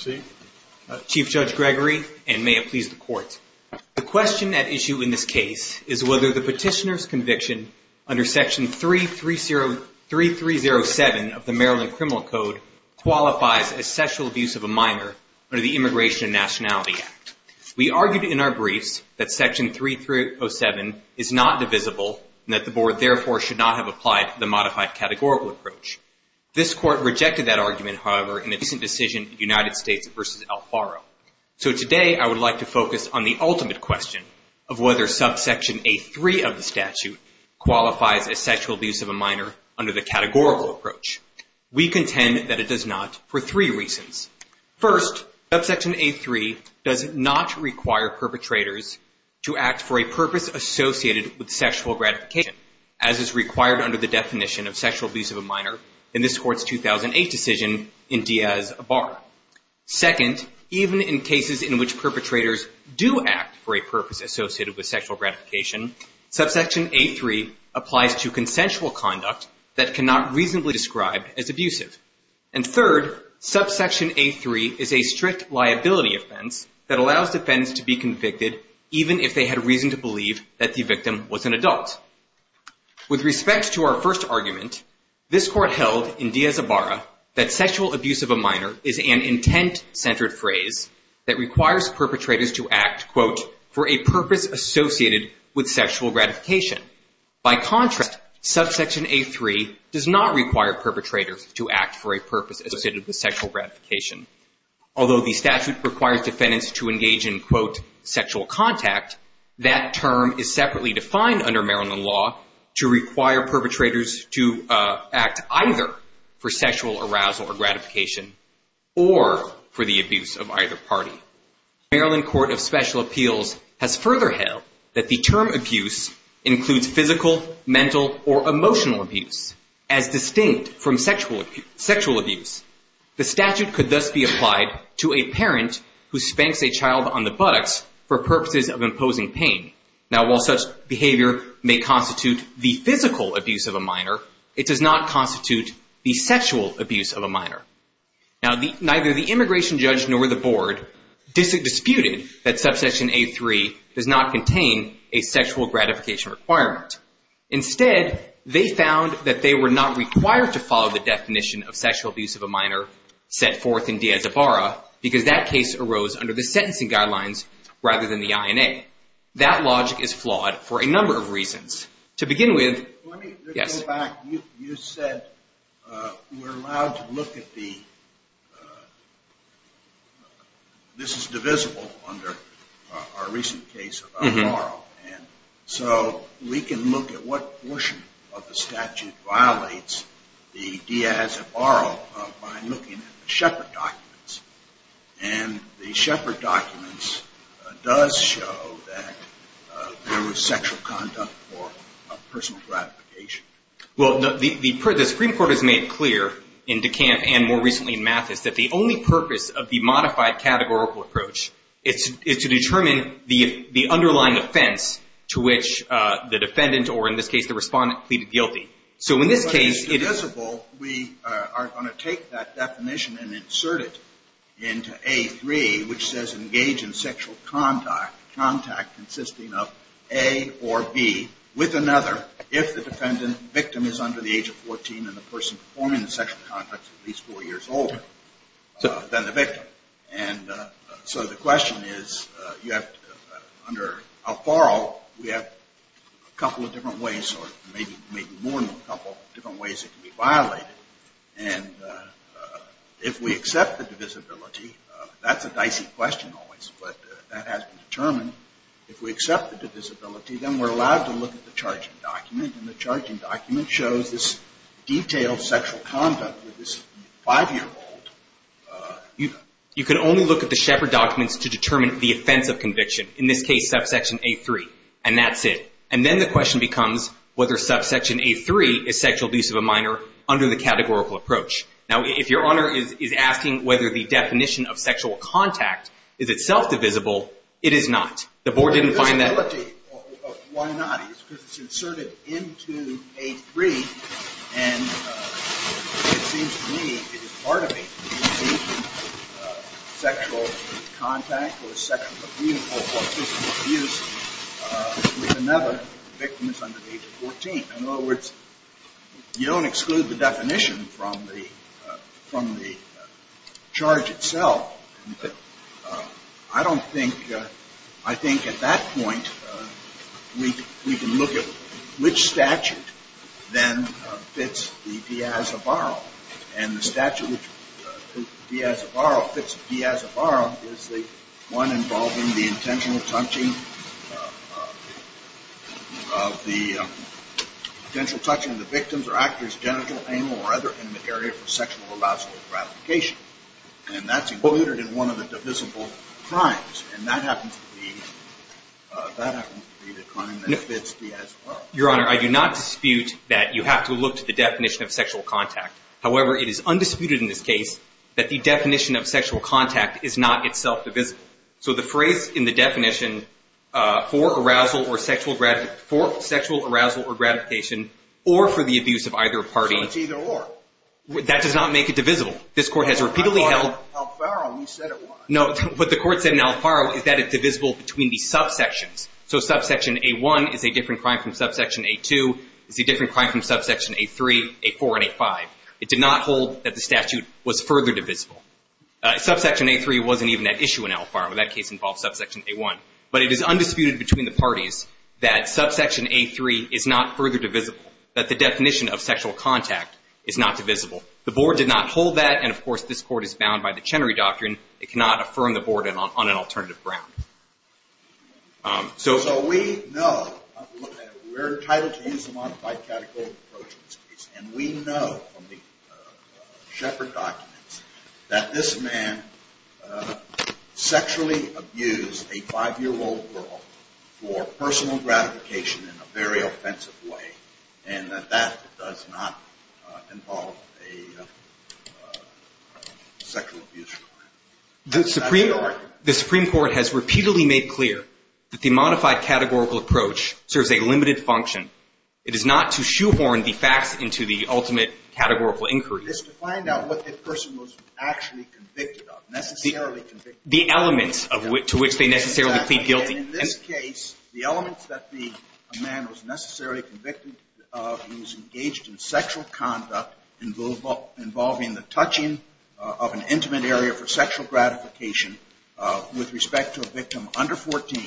The question at issue in this case is whether the petitioner's conviction under Section 3307 of the Maryland Criminal Code qualifies as sexual abuse of a minor under the Immigration and Nationality Act. We argued in our briefs that Section 3307 is not divisible and that the Board therefore should not have applied the modified categorical approach. This Court rejected that argument, however, in its decision United States v. Alfaro. So today I would like to focus on the ultimate question of whether subsection A3 of the statute qualifies as sexual abuse of a minor under the categorical approach. We contend that it does not for three reasons. First, subsection A3 does not require perpetrators to act for a purpose associated with sexual gratification, as is required under the definition of sexual abuse of a minor in this Court's 2008 decision in Diaz v. Abar. Second, even in cases in which perpetrators do act for a purpose associated with sexual gratification, subsection A3 applies to consensual conduct that cannot reasonably be described as abusive. And third, subsection A3 is a strict liability offense that allows defendants to be convicted even if they had reason to believe that the victim was an adult. With respect to our first argument, this Court held in Diaz v. Abar that sexual abuse of a minor is an intent-centered phrase that requires perpetrators to act, quote, for a purpose associated with sexual gratification. By contrast, subsection A3 does not require perpetrators to act for a purpose associated with sexual gratification. Although the statute requires defendants to engage in, quote, sexual contact, that term is separately defined under Maryland law to require perpetrators to act either for sexual arousal or gratification or for the abuse of either party. Maryland Court of Special Appeals has further held that the term abuse includes physical, mental, or emotional abuse as distinct from sexual abuse. The statute could thus be applied to a parent who spanks a child on the buttocks for purposes of imposing pain. Now, while such behavior may constitute the physical abuse of a minor, it does not constitute the sexual abuse of a minor. Now, neither the immigration judge nor the board disputed that subsection A3 does not contain a sexual gratification requirement. Instead, they found that they were not required to follow the definition of sexual abuse of a minor set forth in Diaz v. Abar because that case arose under the sentencing guidelines rather than the INA. That logic is flawed for a number of reasons. To begin with, yes? Let me go back. You said we're allowed to look at the, this is divisible under our recent case of Abarro. And so we can look at what portion of the statute violates the Diaz Abarro by looking at the Shepard documents. And the Shepard documents does show that there was sexual conduct for a personal gratification. Well, the Supreme Court has made it clear in DeCant and more recently in Mathis that the only purpose of the modified categorical approach is to determine the underlying offense to which the defendant or, in this case, the respondent, pleaded guilty. So in this case, it is. Divisible, we are going to take that definition and insert it into A3, which says engage in sexual contact, contact consisting of A or B with another if the defendant, victim is under the age of 14 and the person performing the sexual contact is at least four years older than the victim. And so the question is, you have, under Alfaro, we have a couple of different ways or maybe more than a couple of different ways it can be violated. And if we accept the divisibility, that's a dicey question always, but that has been determined. If we accept the divisibility, then we're allowed to look at the charging document. And the charging document shows this detailed sexual conduct with this five-year-old youth. You can only look at the Shepard documents to determine the offense of conviction, in this case, subsection A3. And that's it. And then the question becomes whether subsection A3 is sexual abuse of a minor under the categorical approach. Now, if your honor is asking whether the definition of sexual contact is itself divisible, it is not. The board didn't find that. Why not? It's because it's inserted into A3, and it seems to me, it is part of A3, sexual contact or sexual or physical abuse with another victim that's under the age of 14. In other words, you don't exclude the definition from the charge itself. I don't think, I think at that point, we can look at which statute then fits the diaz- faro is the one involving the intentional touching of the potential touching of the victims or actors, genital, anal, or other intimate area for sexual or vascular gratification. And that's included in one of the divisible crimes. And that happens to be, that happens to be the crime that fits the diaz-faro. Your honor, I do not dispute that you have to look to the definition of sexual contact. However, it is undisputed in this case that the definition of sexual contact is not itself divisible. So the phrase in the definition, for arousal or sexual, for sexual arousal or gratification, or for the abuse of either party. So it's either or. That does not make it divisible. This court has repeatedly held- Al-faro, you said it was. No, what the court said in al-faro is that it's divisible between the subsections. So subsection A1 is a different crime from subsection A2, is a different crime from subsection A3, A4, and A5. It did not hold that the statute was further divisible. Subsection A3 wasn't even at issue in al-faro. That case involved subsection A1. But it is undisputed between the parties that subsection A3 is not further divisible, that the definition of sexual contact is not divisible. The board did not hold that. And of course, this court is bound by the Chenery Doctrine. It cannot affirm the board on an alternative ground. So we know, we're entitled to use a modified category approach in this case. And we know from the Shepard documents that this man sexually abused a five-year-old girl for personal gratification in a very offensive way. And that that does not involve a sexual abuse crime. That's the argument. The Supreme Court has repeatedly made clear that the modified categorical approach serves a limited function. It is not to shoehorn the facts into the ultimate categorical inquiry. It's to find out what that person was actually convicted of, necessarily convicted of. The elements to which they necessarily plead guilty. In this case, the elements that the man was necessarily convicted of, he was engaged in sexual conduct involving the touching of an intimate area for sexual gratification with respect to a victim under 14.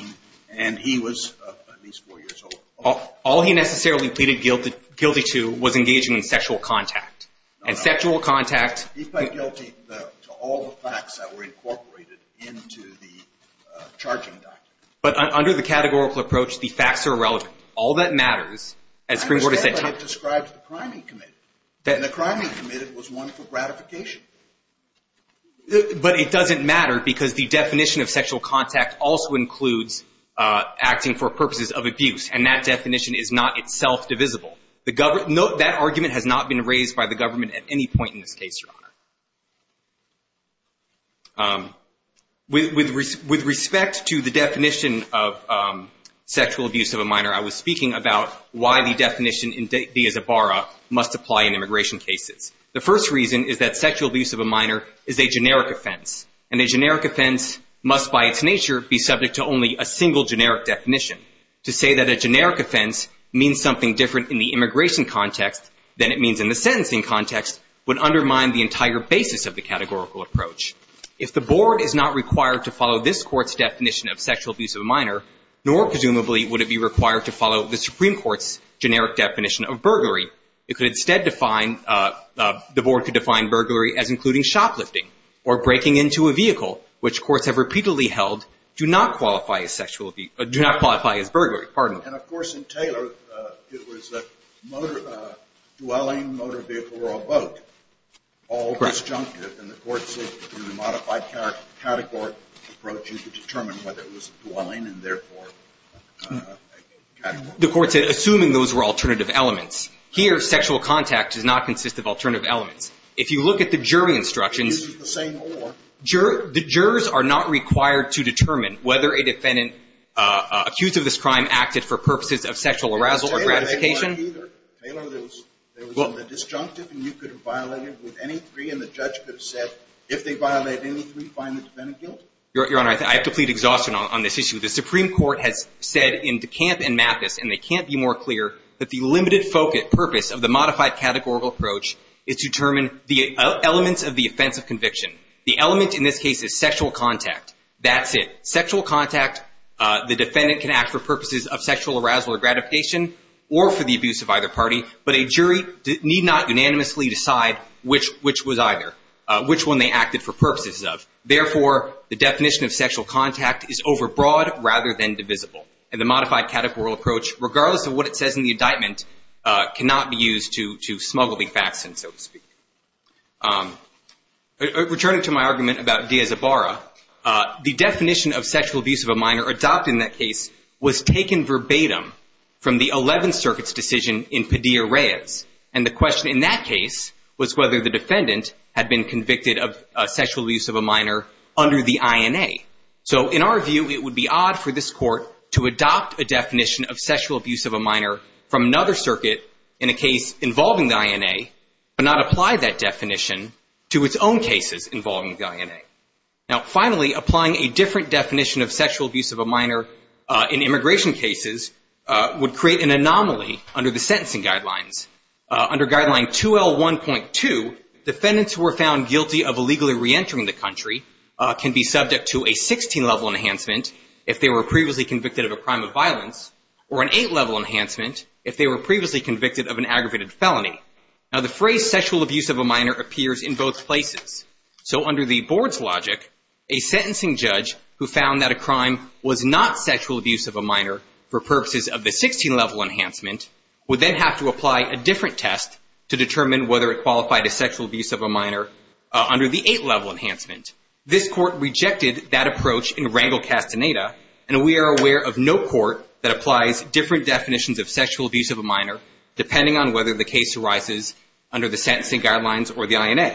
And he was at least four years old. All he necessarily pleaded guilty to was engaging in sexual contact. And sexual contact. He pled guilty to all the facts that were incorporated into the charging document. But under the categorical approach, the facts are irrelevant. All that matters, as Supreme Court has said. I understand, but it describes the Criming Committee. And the Criming Committee was one for gratification. But it doesn't matter because the definition of sexual contact also includes acting for purposes of abuse. And that definition is not itself divisible. That argument has not been raised by the government at any point in this case, Your Honor. With respect to the definition of sexual abuse of a minor, I was speaking about why the definition in De Isabara must apply in immigration cases. The first reason is that sexual abuse of a minor is a generic offense. And a generic offense must, by its nature, be subject to only a single generic definition. To say that a generic offense means something different in the immigration context than it means in the sentencing context would undermine the entire basis of the categorical approach. If the board is not required to follow this court's definition of sexual abuse of a minor, nor, presumably, would it be required to follow the Supreme Court's generic definition of burglary, it could instead define—the board could define burglary as including shoplifting or breaking into a vehicle, which courts have repeatedly held do not qualify as sexual—do not qualify as burglary. Pardon me. And, of course, in Taylor, it was a motor—dwelling motor vehicle or a boat. Correct. All disjunctive. And the court said, in the modified category approach, you could determine whether it was dwelling and, therefore, category. The court said, assuming those were alternative elements. Here, sexual contact does not consist of alternative elements. If you look at the jury instructions— This is the same order. The jurors are not required to determine whether a defendant accused of this crime acted for purposes of sexual arousal or gratification. In Taylor, they weren't either. Taylor, there was only the disjunctive, and you could have violated with any three, and the judge could have said, if they violated any three, find the defendant guilty. Your Honor, I have to plead exhaustion on this issue. The Supreme Court has said in DeCamp and Mathis, and they can't be more clear, that the limited focus—purpose of the modified categorical approach is to determine the elements of the offense of conviction. The element in this case is sexual contact. That's it. Sexual contact, the defendant can act for purposes of sexual arousal or gratification or for the abuse of either party. But a jury need not unanimously decide which was either, which one they acted for purposes of. Therefore, the definition of sexual contact is overbroad rather than divisible. And the modified categorical approach, regardless of what it says in the indictment, cannot be used to smuggle the facts in, so to speak. Returning to my argument about Diaz-Ibarra, the definition of sexual abuse of a minor adopted in that case was taken verbatim from the 11th Circuit's decision in Padilla-Reyes. And the question in that case was whether the defendant had been convicted of sexual abuse of a minor under the INA. So in our view, it would be odd for this Court to adopt a definition of sexual abuse of a minor from another circuit in a case involving the INA but not apply that definition to its own cases involving the INA. Now, finally, applying a different definition of sexual abuse of a minor in immigration cases would create an anomaly under the sentencing guidelines. Under Guideline 2L1.2, defendants who were found guilty of illegally reentering the country can be subject to a 16-level enhancement if they were previously convicted of a crime of violence or an 8-level enhancement if they were previously convicted of an aggravated felony. Now, the phrase sexual abuse of a minor appears in both places. So under the Board's logic, a sentencing judge who found that a crime was not sexual abuse of a minor for purposes of the 16-level enhancement would then have to apply a different test to determine whether it qualified as sexual abuse of a minor under the 8-level enhancement. This Court rejected that approach in Rangel-Castaneda, and we are aware of no court that applies different definitions of sexual abuse of a minor depending on whether the case arises under the sentencing guidelines or the INA.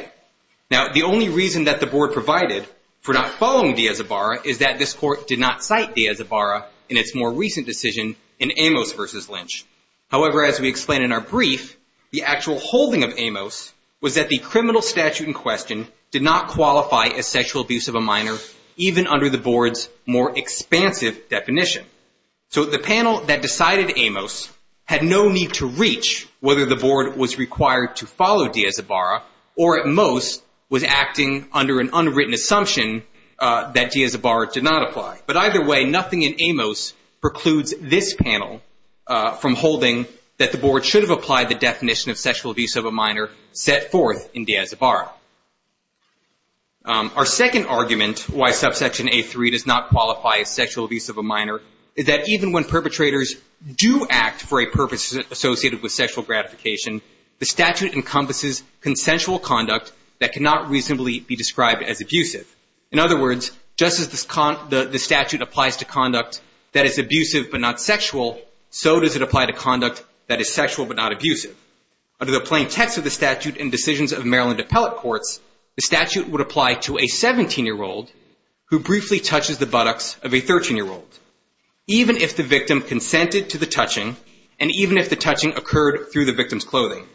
Now, the only reason that the Board provided for not following Diaz-Ibarra is that this Court did not cite Diaz-Ibarra in its more recent decision in Amos v. Lynch. However, as we explained in our brief, the actual holding of Amos was that the criminal statute in question did not qualify as sexual abuse of a minor even under the Board's more expansive definition. So the panel that decided Amos had no need to reach whether the Board was required to follow Diaz-Ibarra or, at most, was acting under an unwritten assumption that Diaz-Ibarra did not apply. But either way, nothing in Amos precludes this panel from holding that the Board should have applied the definition of sexual abuse of a minor set forth in Diaz-Ibarra. Our second argument why Subsection A3 does not qualify as sexual abuse of a minor is that even when perpetrators do act for a purpose associated with sexual gratification, the statute encompasses consensual conduct that cannot reasonably be described as abusive. In other words, just as the statute applies to conduct that is abusive but not sexual, so does it apply to conduct that is sexual but not abusive. Under the plain text of the statute and decisions of Maryland appellate courts, the statute would apply to a 17-year-old who briefly touches the buttocks of a 13-year-old, even if the victim consented to the touching and even if the touching occurred through the victim's clothing.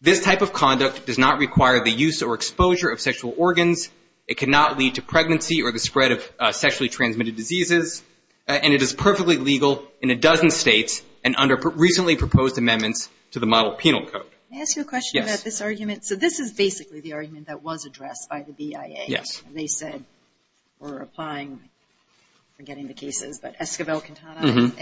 This type of conduct does not require the use or exposure of sexual organs. It cannot lead to pregnancy or the spread of sexually transmitted diseases. And it is perfectly legal in a dozen states and under recently proposed amendments to the Model Penal Code. May I ask you a question about this argument? So this is basically the argument that was addressed by the BIA. They said we're applying, I'm forgetting the cases, but Esquivel-Quintana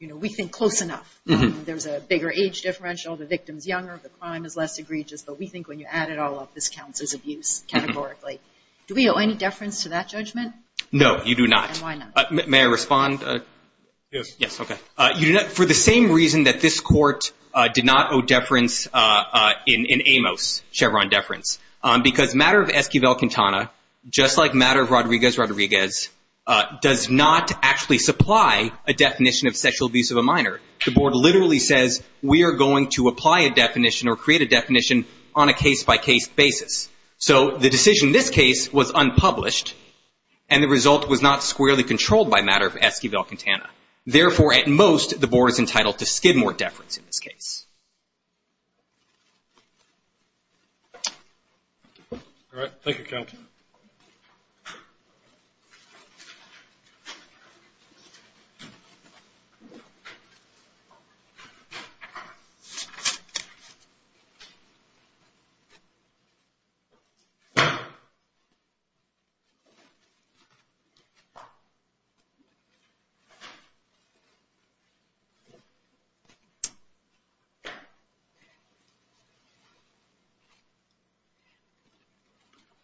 and we think close enough. There's a bigger age differential, the victim's younger, the crime is less egregious, but we think when you add it all up, this counts as abuse, categorically. Do we owe any deference to that judgment? No, you do not. And why not? May I respond? Yes, okay. For the same reason that this court did not owe deference in Amos, Chevron deference, because matter of Esquivel-Quintana, just like matter of Rodriguez-Rodriguez, does not actually supply a definition of sexual abuse of a minor. The board literally says, we are going to apply a definition or create a definition on a case-by-case basis. So the matter of Esquivel-Quintana. Therefore, at most, the board is entitled to skid more deference in this case.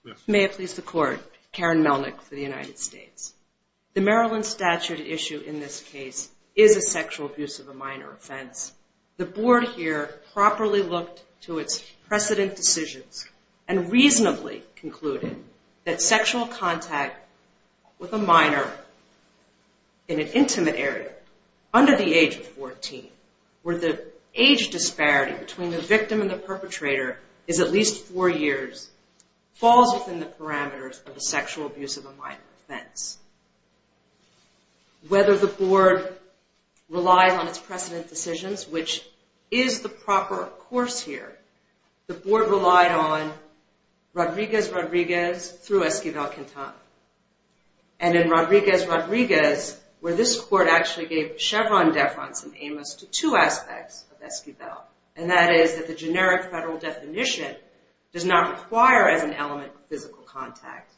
Yes. May it please the court, Karen Melnick for the United States. The Maryland statute issue in this case is a sexual abuse of a minor offense. The board here properly looked to its precedent decisions and reasonably concluded that sexual contact with a minor in an intimate area under the age of 14, where the age disparity between the victim and the perpetrator is at least four years, falls within the parameters of the sexual abuse of a minor offense. Whether the board relies on its precedent decisions, which is the proper course here, the board relied on Rodriguez-Rodriguez through Esquivel-Quintana. And in Rodriguez-Rodriguez, where this court actually gave Chevron deference in Amos to two aspects of Esquivel, and that is that the generic federal definition does not require as an element physical contact.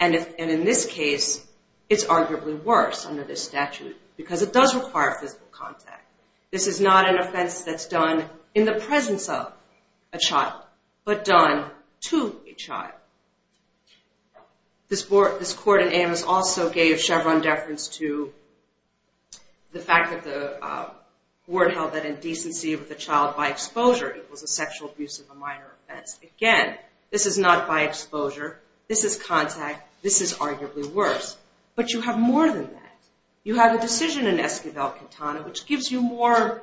And in this case, it's arguably worse under this statute because it does require physical contact. This is not an offense that's done in the presence of a child, but done to a child. This court in Amos also gave Chevron deference to the fact that the board held that indecency with a child by exposure equals a sexual abuse of a minor offense. Again, this is not by exposure. This is contact. This is arguably worse. But you have more than that. You have a decision in Esquivel-Quintana which gives you more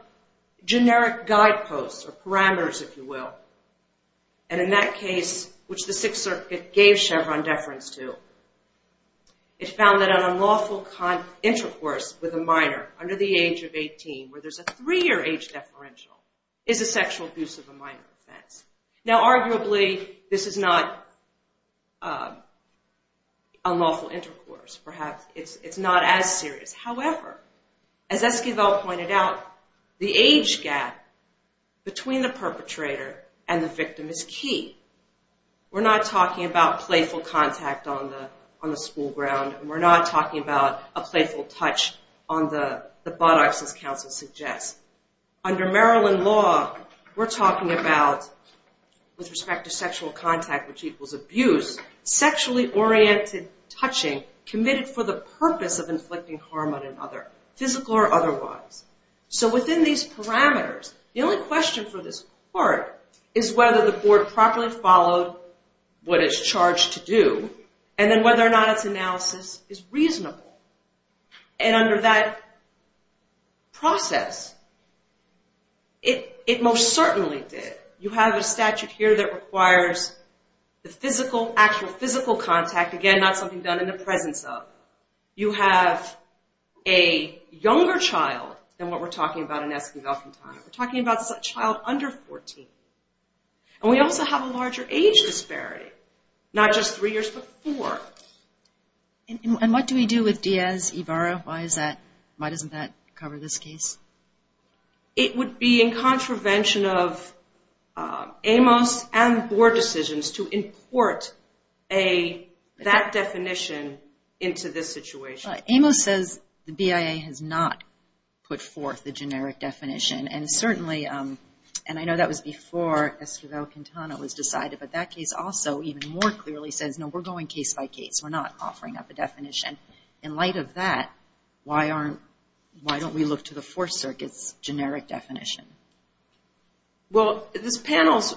generic guideposts or parameters, if you will. And in that case, which the Sixth Circuit gave Chevron deference to, it found that an unlawful intercourse with a minor under the age of 18, where there's a three-year age deferential, is a sexual abuse of a minor offense. Now arguably, this is not unlawful intercourse. Perhaps it's not as serious. However, as Esquivel pointed out, the age gap between the perpetrator and the victim is key. We're not talking about playful contact on the school ground, and we're not talking about a playful touch on the buttocks, as counsel suggests. Under Maryland law, we're talking about, with respect to sexual contact which equals abuse, sexually oriented touching committed for the purpose of inflicting harm on another, physical or otherwise. So within these parameters, the only question for this court is whether the board properly followed what it's charged to do, and then whether or not its analysis is reasonable. And under that process, it most certainly did. You have a statute here that requires the actual physical contact, again, not something done in the presence of. You have a younger child than what we're talking about in Esquivel-Quintana. We're talking about a child under 14. And we also have a larger age disparity, not just three years, but four. And what do we do with Diaz-Ibarra? Why doesn't that cover this case? It would be in contravention of Amos and the board decisions to import that definition into this situation. Amos says the BIA has not put forth the generic definition, and certainly, and I know that was before Esquivel-Quintana was decided, but that case even more clearly says, no, we're going case by case. We're not offering up a definition. In light of that, why don't we look to the Fourth Circuit's generic definition? Well, this panel's,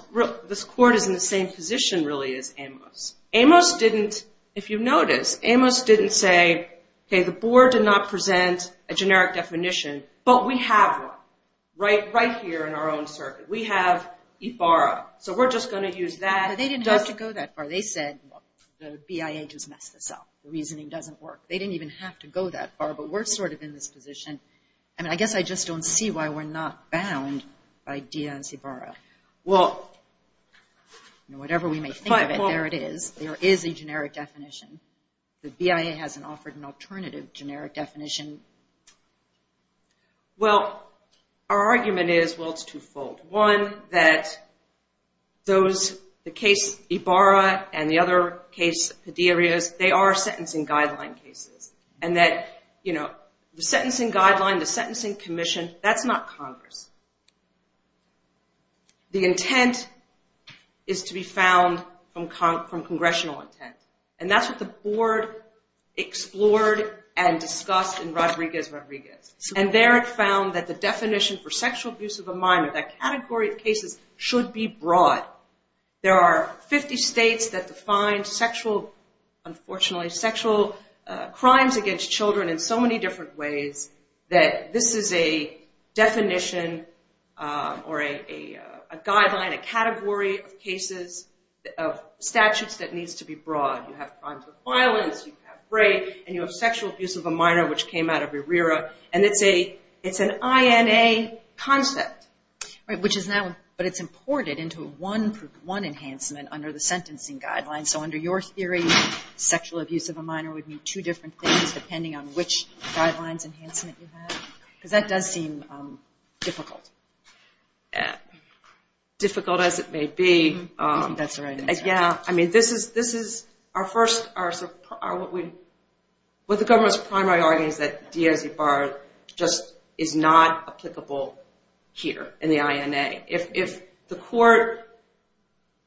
this court is in the same position, really, as Amos. Amos didn't, if you notice, Amos didn't say, okay, the board did not present a generic definition, but we have one right here in our own circuit. We have Ibarra. So we're just going to use that. They didn't have to go that far. They said the BIA just messed this up. The reasoning doesn't work. They didn't even have to go that far, but we're sort of in this position. I mean, I guess I just don't see why we're not bound by Diaz-Ibarra. Well, whatever we may think of it, there it is. There is a generic definition. The BIA hasn't offered an alternative generic definition. Well, our argument is, well, it's twofold. One, that those, the case Ibarra and the other case Padillas, they are sentencing guideline cases, and that the sentencing guideline, the sentencing commission, that's not Congress. The intent is to be found from congressional intent. And that's what the board explored and discussed in Rodriguez-Rodriguez. And there it found that the definition for sexual abuse of a minor, that category of cases should be broad. There are 50 states that define sexual, unfortunately, sexual crimes against children in so many different ways that this is a definition or a guideline, a category of cases, of statutes that needs to be broad. You have crimes of violence, you have rape, and you have sexual abuse of a minor, which came out of ERIRA. And it's an INA concept. Which is now, but it's imported into one enhancement under the sentencing guidelines. So under your theory, sexual abuse of a minor would mean two different things, depending on which guidelines enhancement you have. Because that does seem difficult. Difficult as it may be. That's right. Yeah. I mean, this is our first, what the government's primary argument is that Diaz-Ibarra just is not applicable here in the INA. If the court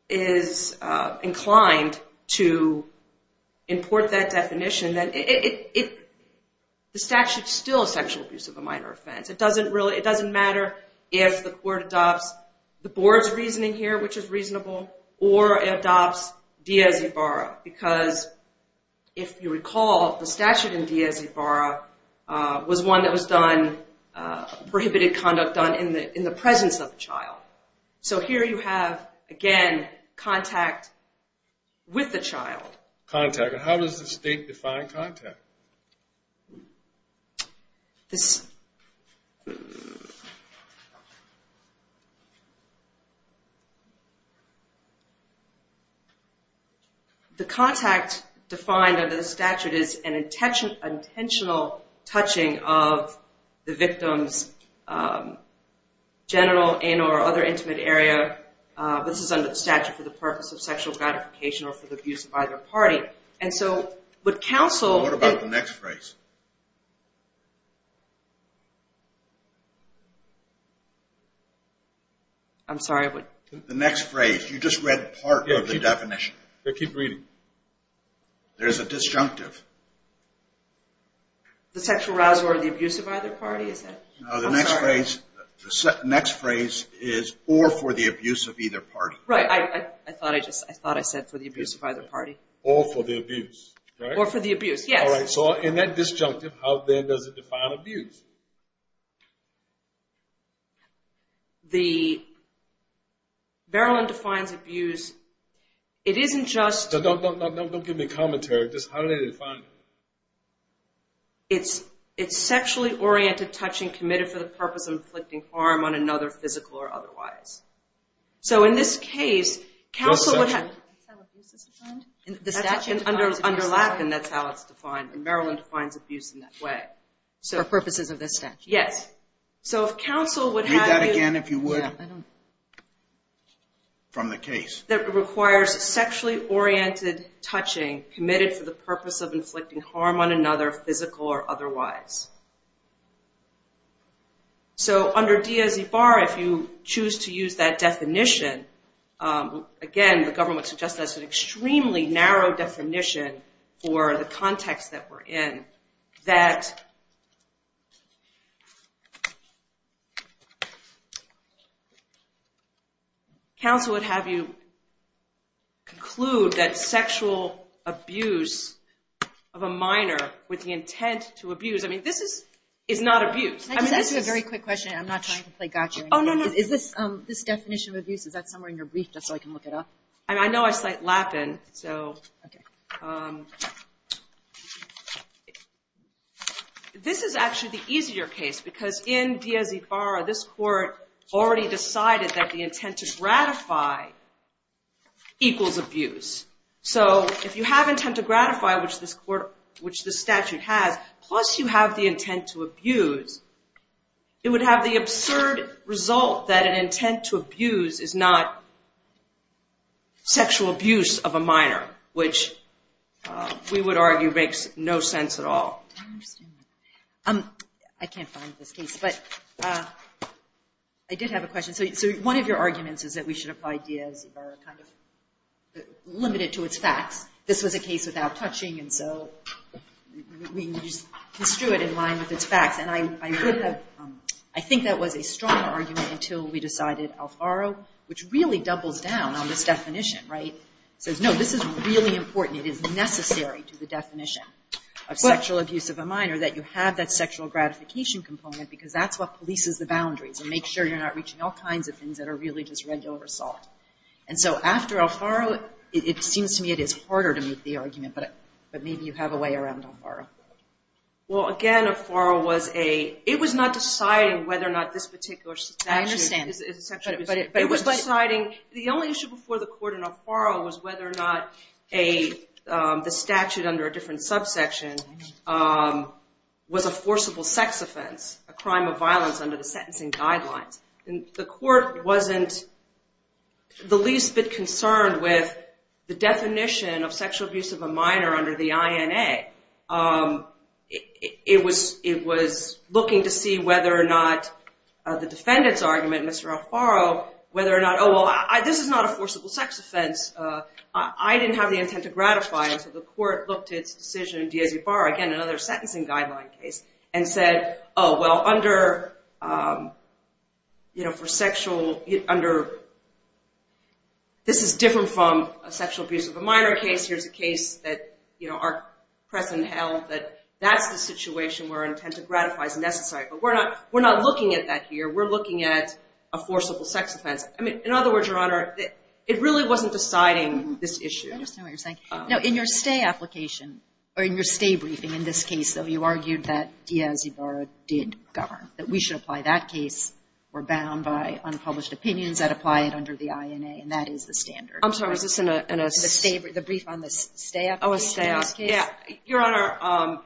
is inclined to import that definition, it, the statute's still sexual abuse of a minor offense. It doesn't really, it doesn't matter if the court adopts the board's reasoning here, which is reasonable, or adopts Diaz-Ibarra. Because if you recall, the statute in Diaz-Ibarra was one that was done, prohibited conduct done in the presence of the child. So here you have, again, contact with the child. Contact. And how does the state define contact? The contact defined under the statute is an intentional touching of the victim's genital, anal, or other intimate area. This is under the statute for the purpose of sexual gratification or for the abuse of either party. And so, would counsel- What about the next phrase? I'm sorry, what? The next phrase. You just read part of the definition. Yeah, keep reading. There's a disjunctive. The sexual arousal or the abuse of either party, is that? No, the next phrase, the next phrase is, or for the abuse of either party. Right, I thought I just, I thought I said for the abuse of either party. Or for the abuse, right? Or for the abuse, yes. All right, so in that disjunctive, how then does it define abuse? The, Berylyn defines abuse, it isn't just- No, no, no, no, don't give me commentary. Just how do they define it? It's sexually oriented touching committed for the purpose of inflicting harm on another physical or otherwise. So in this case, counsel would have- That's how abuse is defined? The statute underlap and that's how it's defined. And Berylyn defines abuse in that way. For purposes of this statute? Yes. So if counsel would have- Read that again if you would. From the case. That requires sexually oriented touching committed for the purpose of inflicting harm on another physical or otherwise. So under Diaz-Ibarra, if you choose to use that definition, again, the government suggested that's an extremely narrow definition for the context that we're in. That counsel would have you conclude that sexual abuse of a minor with the intent to abuse, I mean, this is not abuse. Can I just ask you a very quick question? I'm not trying to play gotcha. Oh, no, no. Is this definition of abuse, is that somewhere in your brief just so I can look it up? I mean, I know I slight lap in, so. This is actually the easier case because in Diaz-Ibarra, this court already decided that the intent to gratify equals abuse. So if you have intent to gratify, which this statute has, plus you have the intent to abuse, it would have the absurd result that an intent to abuse is not sexual abuse of a minor, which we would argue makes no sense at all. I can't find this case, but I did have a question. So one of your arguments is that we should apply Diaz-Ibarra kind of limited to its facts. This was a case without touching, and so we just construe it in line with its facts. And I think that was a strong argument until we decided Alfaro, which really doubles down on this definition, right, says, no, this is really necessary to the definition of sexual abuse of a minor, that you have that sexual gratification component because that's what polices the boundaries and makes sure you're not reaching all kinds of things that are really just regular assault. And so after Alfaro, it seems to me it is harder to make the argument, but maybe you have a way around Alfaro. Well, again, Alfaro was a, it was not deciding whether or not this particular statute is sexual, but it was deciding, the only issue before the court in Alfaro was whether or not a, the statute under a different subsection was a forcible sex offense, a crime of violence under the sentencing guidelines. And the court wasn't the least bit concerned with the definition of sexual abuse of a minor under the INA. It was looking to see whether or not the defendant's argument, Mr. Alfaro, whether or not, oh, well, this is not a forcible sex offense. I didn't have the intent to gratify it, so the court looked at its decision in Diaz y Barra, again, another sentencing guideline case, and said, oh, well, under, for sexual, under, this is different from a sexual abuse of a minor case. Here's a case that our present held that that's the situation where intent to gratify is necessary. But we're not looking at that here. We're looking at a forcible sex offense. I mean, in other words, Your Honor, it really wasn't deciding this issue. I understand what you're saying. Now, in your stay application, or in your stay briefing, in this case, though, you argued that Diaz y Barra did govern, that we should apply that case. We're bound by unpublished opinions that apply it under the INA, and that is the standard. I'm sorry. Was this in a, in a... The stay, the brief on the stay application in this case? Oh, a stay, yeah. Your Honor,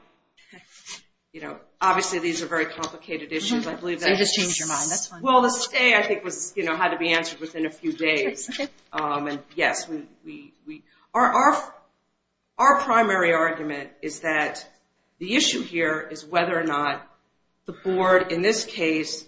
you know, obviously, these are very complicated issues. I believe that... You just changed your mind. That's fine. Well, the stay, I think, was, you know, had to be answered within a few days. And yes, we... Our primary argument is that the issue here is whether or not the Board, in this case,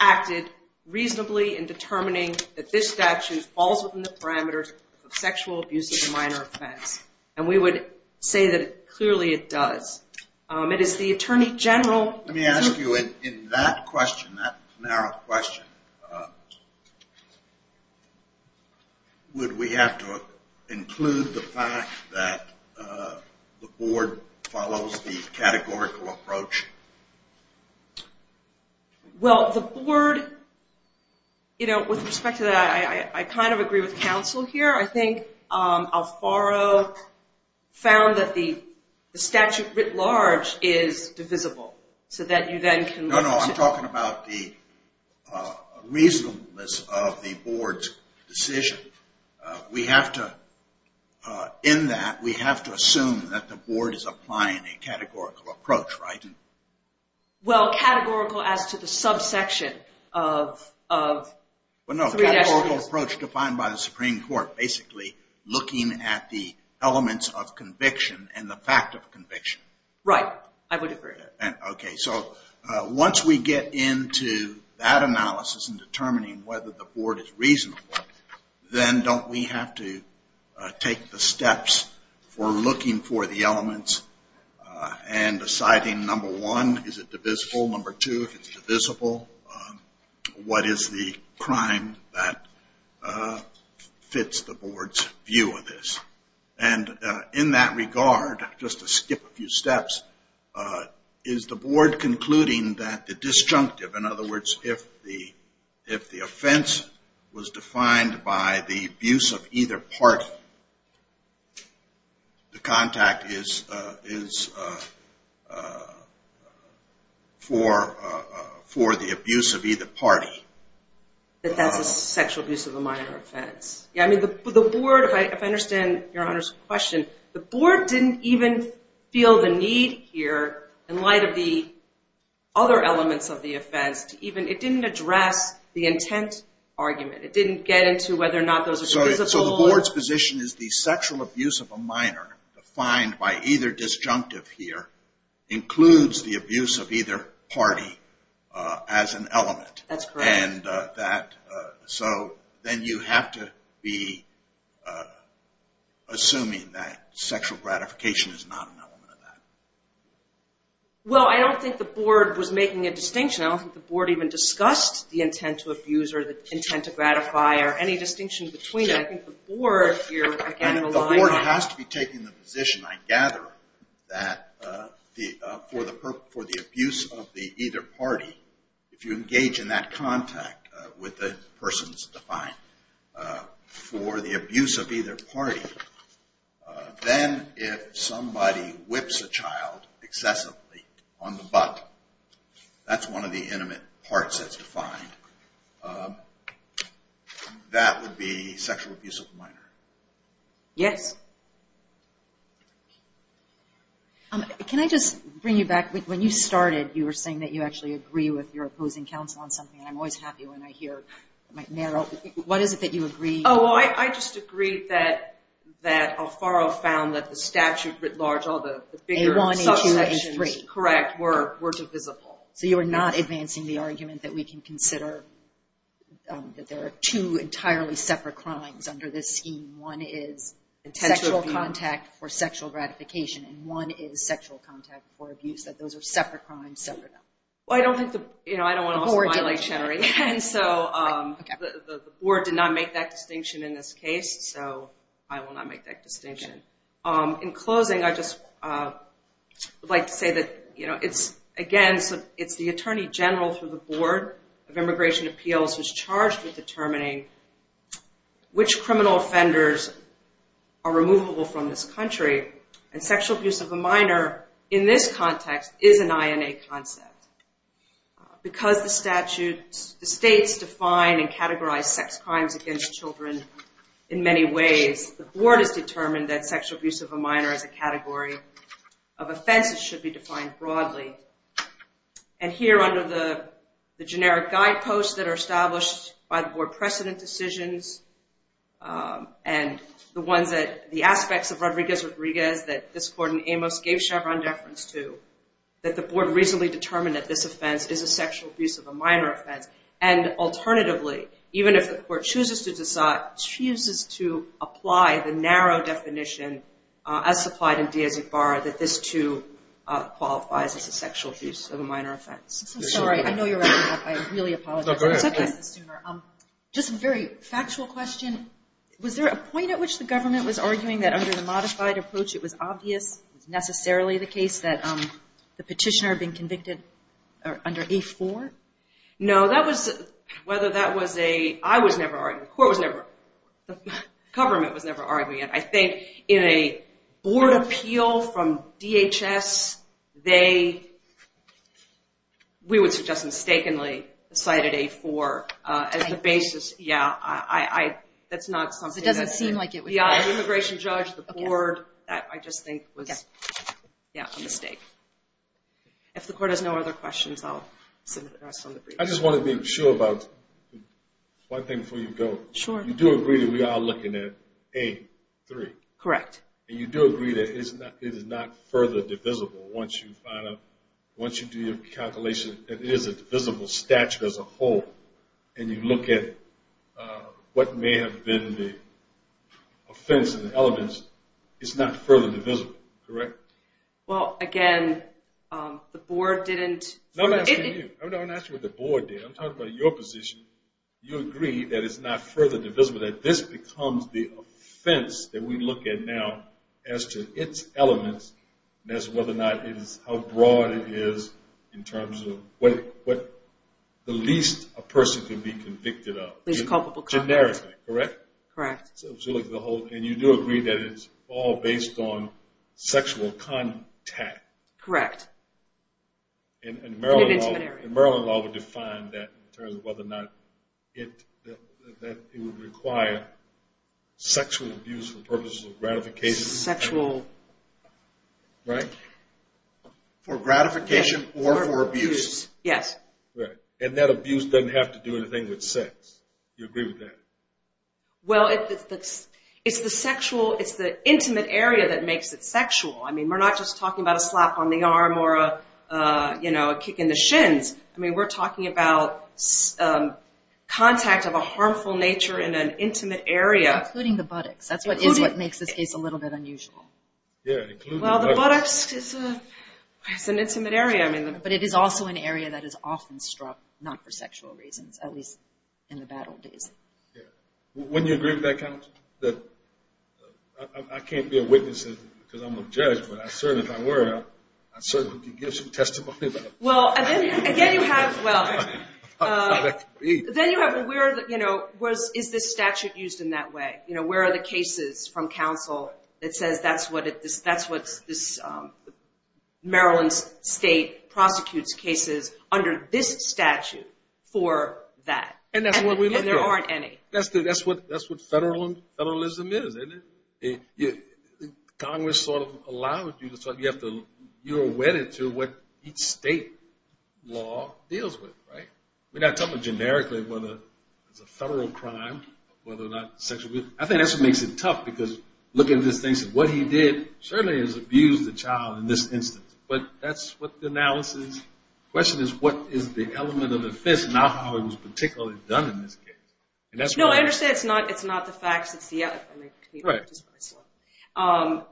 acted reasonably in determining that this statute falls within the parameters of sexual abuse of a minor offense. And we would say that clearly it does. It is the Attorney General... Let me ask you, in that question, that narrow question, would we have to include the fact that the Board follows the categorical approach? Well, the Board, you know, with respect to that, I kind of agree with counsel here. I think Alfaro found that the statute writ large is divisible, so that you then can... No, no. I'm talking about the reasonableness of the Board's decision. We have to, in that, we have to assume that the Board is applying a categorical approach, right? Well, categorical as to the subsection of... No, a categorical approach defined by the Supreme Court. Basically, looking at the elements of conviction and the fact of conviction. Right. I would agree. Okay. So, once we get into that analysis and determining whether the Board is reasonable, then don't we have to take the steps for looking for the elements and deciding, number one, is it divisible? Number two, if it's divisible, what is the crime that fits the Board's view of this? And in that regard, just to skip a few steps, is the Board concluding that the disjunctive, in other words, if the offense was defined by the abuse of either party, the contact is for the abuse of either party? That that's a sexual abuse of a minor offense. Yeah, I mean, the Board, if I understand Your Honor's question, the Board didn't even feel the need here in light of the other elements of the offense to even... It didn't address the intent argument. It didn't get into whether or not those are divisible or... So, the Board's position is the sexual abuse of a minor defined by either disjunctive here includes the abuse of either party as an element. That's correct. And that... So, then you have to be assuming that sexual gratification is not an element of that. Well, I don't think the Board was making a distinction. I don't think the Board even discussed the intent to abuse or the intent to gratify or any distinction between them. I think the Board has to be taking the position, I gather, that for the abuse of the either party, if you engage in that contact with the persons defined for the abuse of either party, then if somebody whips a child excessively on the butt, that's one of the intimate parts that's defined, that would be sexual abuse of a minor. Yes? Can I just bring you back? When you started, you were saying that you actually agree with your opposing counsel on something, and I'm always happy when I hear it might narrow. What is it that you agree? Oh, well, I just agree that Alfaro found that the statute writ large, all the bigger subsections, correct, were divisible. So, you're not advancing the argument that we can consider that there are two entirely separate crimes under this scheme. One is sexual contact for sexual gratification, and one is sexual contact for abuse, that those are separate crimes, separate. Well, I don't think the, you know, I don't want to off-smile like Chenery, and so the Board did not make that distinction in this case, so I will not make that distinction. In closing, I'd just like to say that, you know, it's, again, it's the Attorney General through the Board of Immigration Appeals who's charged with determining which criminal offenders are removable from this country, and sexual abuse of a minor in this context is an INA concept. Because the statute, the states define and categorize sex crimes against children in many ways, the Board has determined that sexual abuse of a minor is a category of offense that should be defined broadly. And here, under the generic guideposts that are established by the Board precedent decisions, and the ones that, the aspects of Rodriguez-Rodriguez that this Court in Amos gave Chevron deference to, that the Board reasonably determined that this offense is a sexual abuse of a minor offense, and alternatively, even if the Court chooses to decide, that this, too, qualifies as a sexual abuse of a minor offense. I'm so sorry. I know you're wrapping up. I really apologize. No, go ahead. It's okay. Just a very factual question. Was there a point at which the government was arguing that under the modified approach it was obvious, it was necessarily the case, that the petitioner had been convicted under A4? No, that was, whether that was a, I was never arguing, the Court was never, the government was never arguing it. I think in a Board appeal from DHS, they, we would suggest mistakenly, decided A4 as the basis. Yeah, I, that's not something that's... It doesn't seem like it would... Yeah, the immigration judge, the Board, that I just think was, yeah, a mistake. If the Court has no other questions, I'll submit the rest on the brief. I just want to be sure about one thing before you go. Sure. You do agree that we are looking at A3? Correct. And you do agree that it is not further divisible once you find out, once you do your calculation, that it is a divisible statute as a whole, and you look at what may have been the offense and the elements, it's not further divisible, correct? Well, again, the Board didn't... No, I'm asking you. I'm not asking what the Board did. I'm talking about your position. You agree that it's not further divisible, that this becomes the offense that we look at now as to its elements, and as to whether or not it is, how broad it is, in terms of what the least a person can be convicted of. Least culpable conduct. Generically, correct? Correct. So if you look at the whole... And you do agree that it's all based on sexual contact? Correct. In an intimate area. Maryland law would define that in terms of whether or not it... that it would require sexual abuse for purposes of gratification. Sexual... Right? For gratification or for abuse. Yes. Right. And that abuse doesn't have to do anything with sex. You agree with that? Well, it's the sexual... It's the intimate area that makes it sexual. I mean, we're not just talking about a slap on the arm, or a kick in the shins. I mean, we're talking about contact of a harmful nature in an intimate area. Including the buttocks. That's what makes this case a little bit unusual. Yeah, including the buttocks. Well, the buttocks is an intimate area. I mean... But it is also an area that is often struck, not for sexual reasons, at least in the bad old days. Yeah. Wouldn't you agree with that, counsel? That I can't be a witness, because I'm a judge, but I certainly, if I were, I certainly could give some testimony. Well, again, you have... Well... Then you have, where is this statute used in that way? Where are the cases from counsel that says that's what this Maryland state prosecutes cases under this statute for that? And that's what we look for. And there aren't any. That's what federalism is, isn't it? Yeah. Congress sort of allows you to... So you have to... You're wedded to what each state law deals with, right? We're not talking generically whether it's a federal crime, whether or not sexual... I think that's what makes it tough, because looking at this thing, so what he did certainly has abused the child in this instance. But that's what the analysis... The question is, what is the element of offense? Not how it was particularly done in this case. And that's why... No, I understand it's not the facts. It's the... Right. That's what I saw.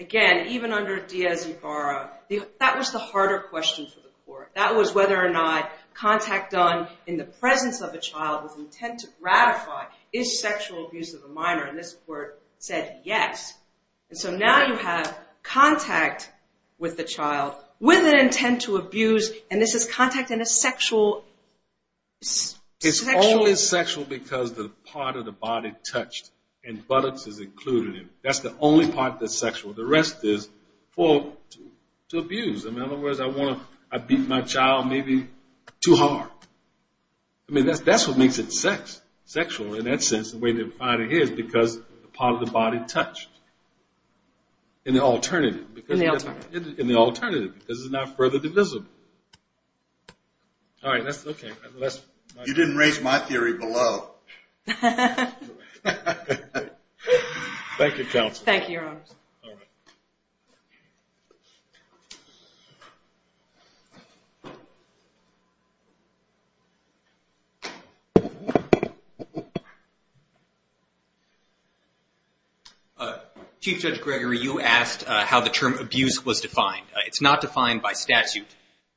Again, even under Diaz y Barra, that was the harder question for the court. That was whether or not contact done in the presence of a child with intent to ratify is sexual abuse of a minor. And this court said, yes. And so now you have contact with the child with an intent to abuse. And this is contact in a sexual... It's always sexual because the part of the body touched and buttocks is included in it. That's the only part that's sexual. The rest is for... To abuse. In other words, I want to... I beat my child maybe too hard. I mean, that's what makes it sexual. In that sense, the way to define it here is because the part of the body touched. And the alternative, because... And the alternative. And the alternative, because it's not further divisible. All right, that's... You didn't raise my theory below. Thank you, counsel. Thank you, your honors. All right. Chief Judge Gregory, you asked how the term abuse was defined. It's not defined by statute.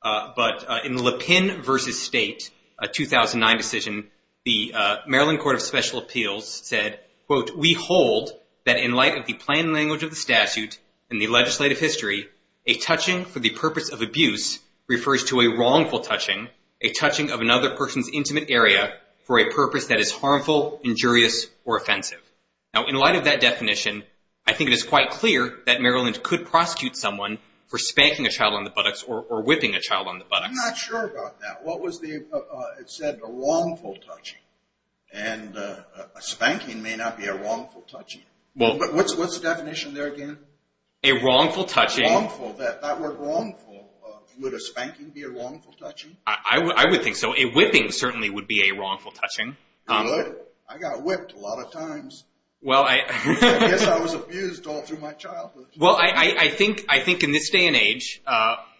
But in Lapin v. State, a 2009 decision, the Maryland Court of Special Appeals said, quote, We hold that in light of the plain language of the statute and the legislative history, a touching for the purpose of abuse refers to a wrongful touching, a touching of another person's intimate area for a purpose that is harmful, injurious, or offensive. Now, in light of that definition, I think it is quite clear that Maryland could prosecute someone for spanking a child on the buttocks or whipping a child on the buttocks. I'm not sure about that. What was the... It said a wrongful touching. And a spanking may not be a wrongful touching. Well, what's the definition there again? A wrongful touching. Wrongful. That word wrongful. Would a spanking be a wrongful touching? I would think so. A whipping certainly would be a wrongful touching. You would? I got whipped a lot of times. I guess I was abused all through my childhood. Well, I think in this day and age,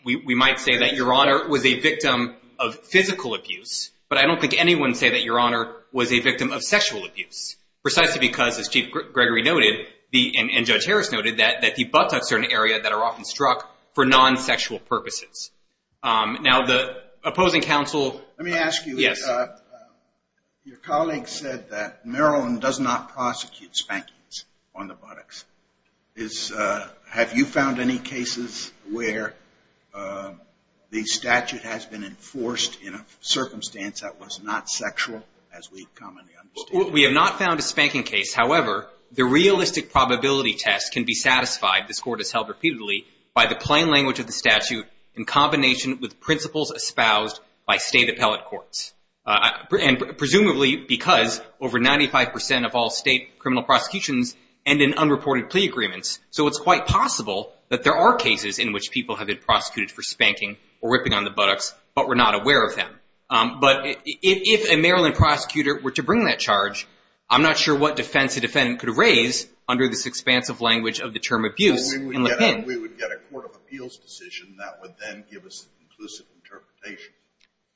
we might say that Your Honor was a victim of physical abuse, but I don't think anyone would say that Your Honor was a victim of sexual abuse precisely because, as Chief Gregory noted, and Judge Harris noted, that the buttocks are an area that are often struck for non-sexual purposes. Now, the opposing counsel... Let me ask you. Your colleague said that Maryland does not prosecute spankings on the buttocks. Is... Have you found any cases where the statute has been enforced in a circumstance that was not sexual as we commonly understand? We have not found a spanking case. However, the realistic probability test can be satisfied, this Court has held repeatedly, by the plain language of the statute in combination with principles espoused by state appellate courts. And presumably because over 95% of all state criminal prosecutions end in unreported plea agreements. So it's quite possible that there are cases in which people have been prosecuted for spanking or ripping on the buttocks, but we're not aware of them. But if a Maryland prosecutor were to bring that charge, I'm not sure what defense a defendant could raise under this expansive language of the term abuse. We would get a Court of Appeals decision that would then give us an inclusive interpretation.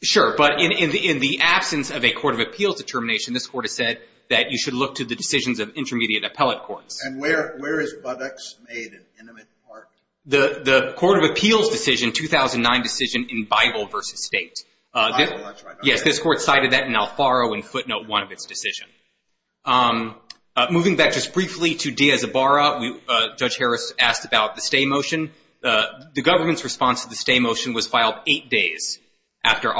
Sure, but in the absence of a Court of Appeals determination, this Court has said that you should look to the decisions of intermediate appellate courts. And where is buttocks made an intimate part? The Court of Appeals decision, 2009 decision in Bible v. State. Yes, this Court cited that in Alfaro in footnote one of its decision. Moving back just briefly to Diaz-Ibarra, Judge Harris asked about the stay motion. The government's response to the stay motion was filed eight days after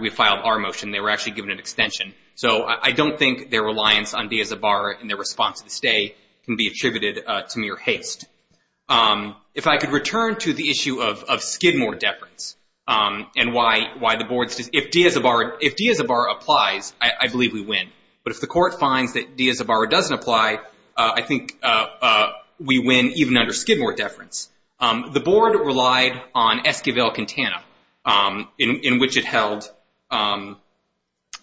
we filed our motion. They were actually given an extension. So I don't think their reliance on Diaz-Ibarra in their response to the stay can be attributed to mere haste. If I could return to the issue of Skidmore deference and why the board's decision. If Diaz-Ibarra applies, I believe we win. But if the court finds that Diaz-Ibarra doesn't apply, I think we win even under Skidmore deference. The board relied on Esquivel-Quintana, in which it held,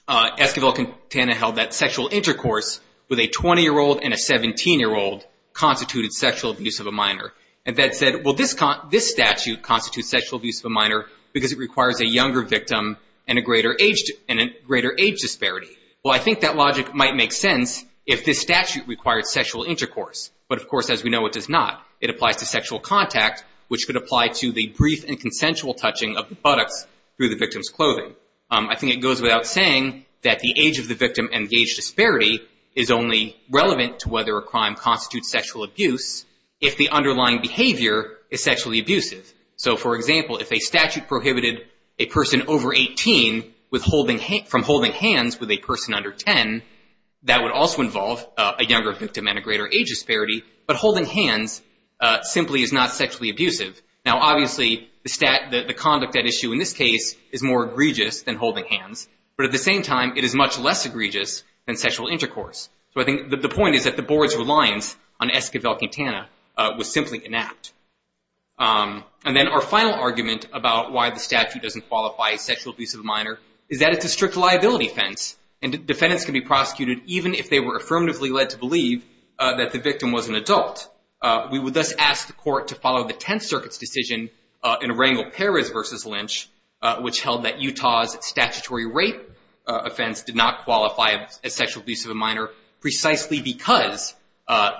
Esquivel-Quintana held that sexual intercourse with a 20-year-old and a 17-year-old constituted sexual abuse of a minor. And that said, well, this statute constitutes sexual abuse of a minor because it requires a younger victim and a greater age disparity. Well, I think that logic might make sense if this statute required sexual intercourse. But of course, as we know, it does not. It applies to sexual contact, which could apply to the brief and consensual touching of the buttocks through the victim's clothing. I think it goes without saying that the age of the victim and the age disparity is only relevant to whether a crime constitutes sexual abuse if the underlying behavior is sexually abusive. So, for example, if a statute prohibited a person over 18 from holding hands with a person under 10, that would also involve a younger victim and a greater age disparity. But holding hands simply is not sexually abusive. Now, obviously, the conduct at issue in this case is more egregious than holding hands. But at the same time, it is much less egregious than sexual intercourse. So I think the point is that the board's reliance on Esquivel-Quintana was simply inapt. And then our final argument about why the statute doesn't qualify sexual abuse of a minor is that it's a strict liability offense. And defendants can be prosecuted even if they were affirmatively led to believe that the victim was an adult. We would thus ask the court to follow the Tenth Circuit's decision in Rangel-Perez v. Lynch, which held that Utah's statutory rape offense did not qualify as sexual abuse of a minor precisely because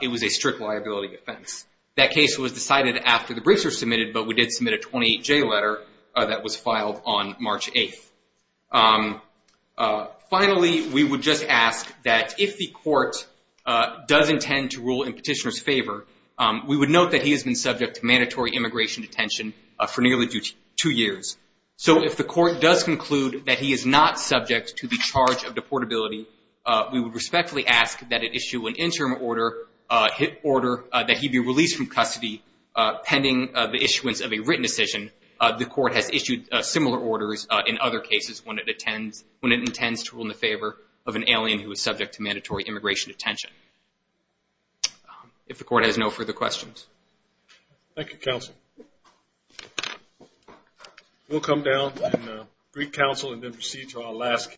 it was a strict liability offense. That case was decided after the briefs were submitted, but we did submit a 28-J letter that was filed on March 8. Finally, we would just ask that if the court does intend to rule in petitioner's favor, we would note that he has been subject to mandatory immigration detention for nearly two years. So if the court does conclude that he is not subject to the charge of deportability, we would respectfully ask that it issue an interim order that he be released from custody pending the issuance of a written decision. The court has issued similar orders in other cases when it intends to rule in the favor of an alien who is subject to mandatory immigration detention. If the court has no further questions. Thank you, counsel. We'll come down and brief counsel and then proceed to our last.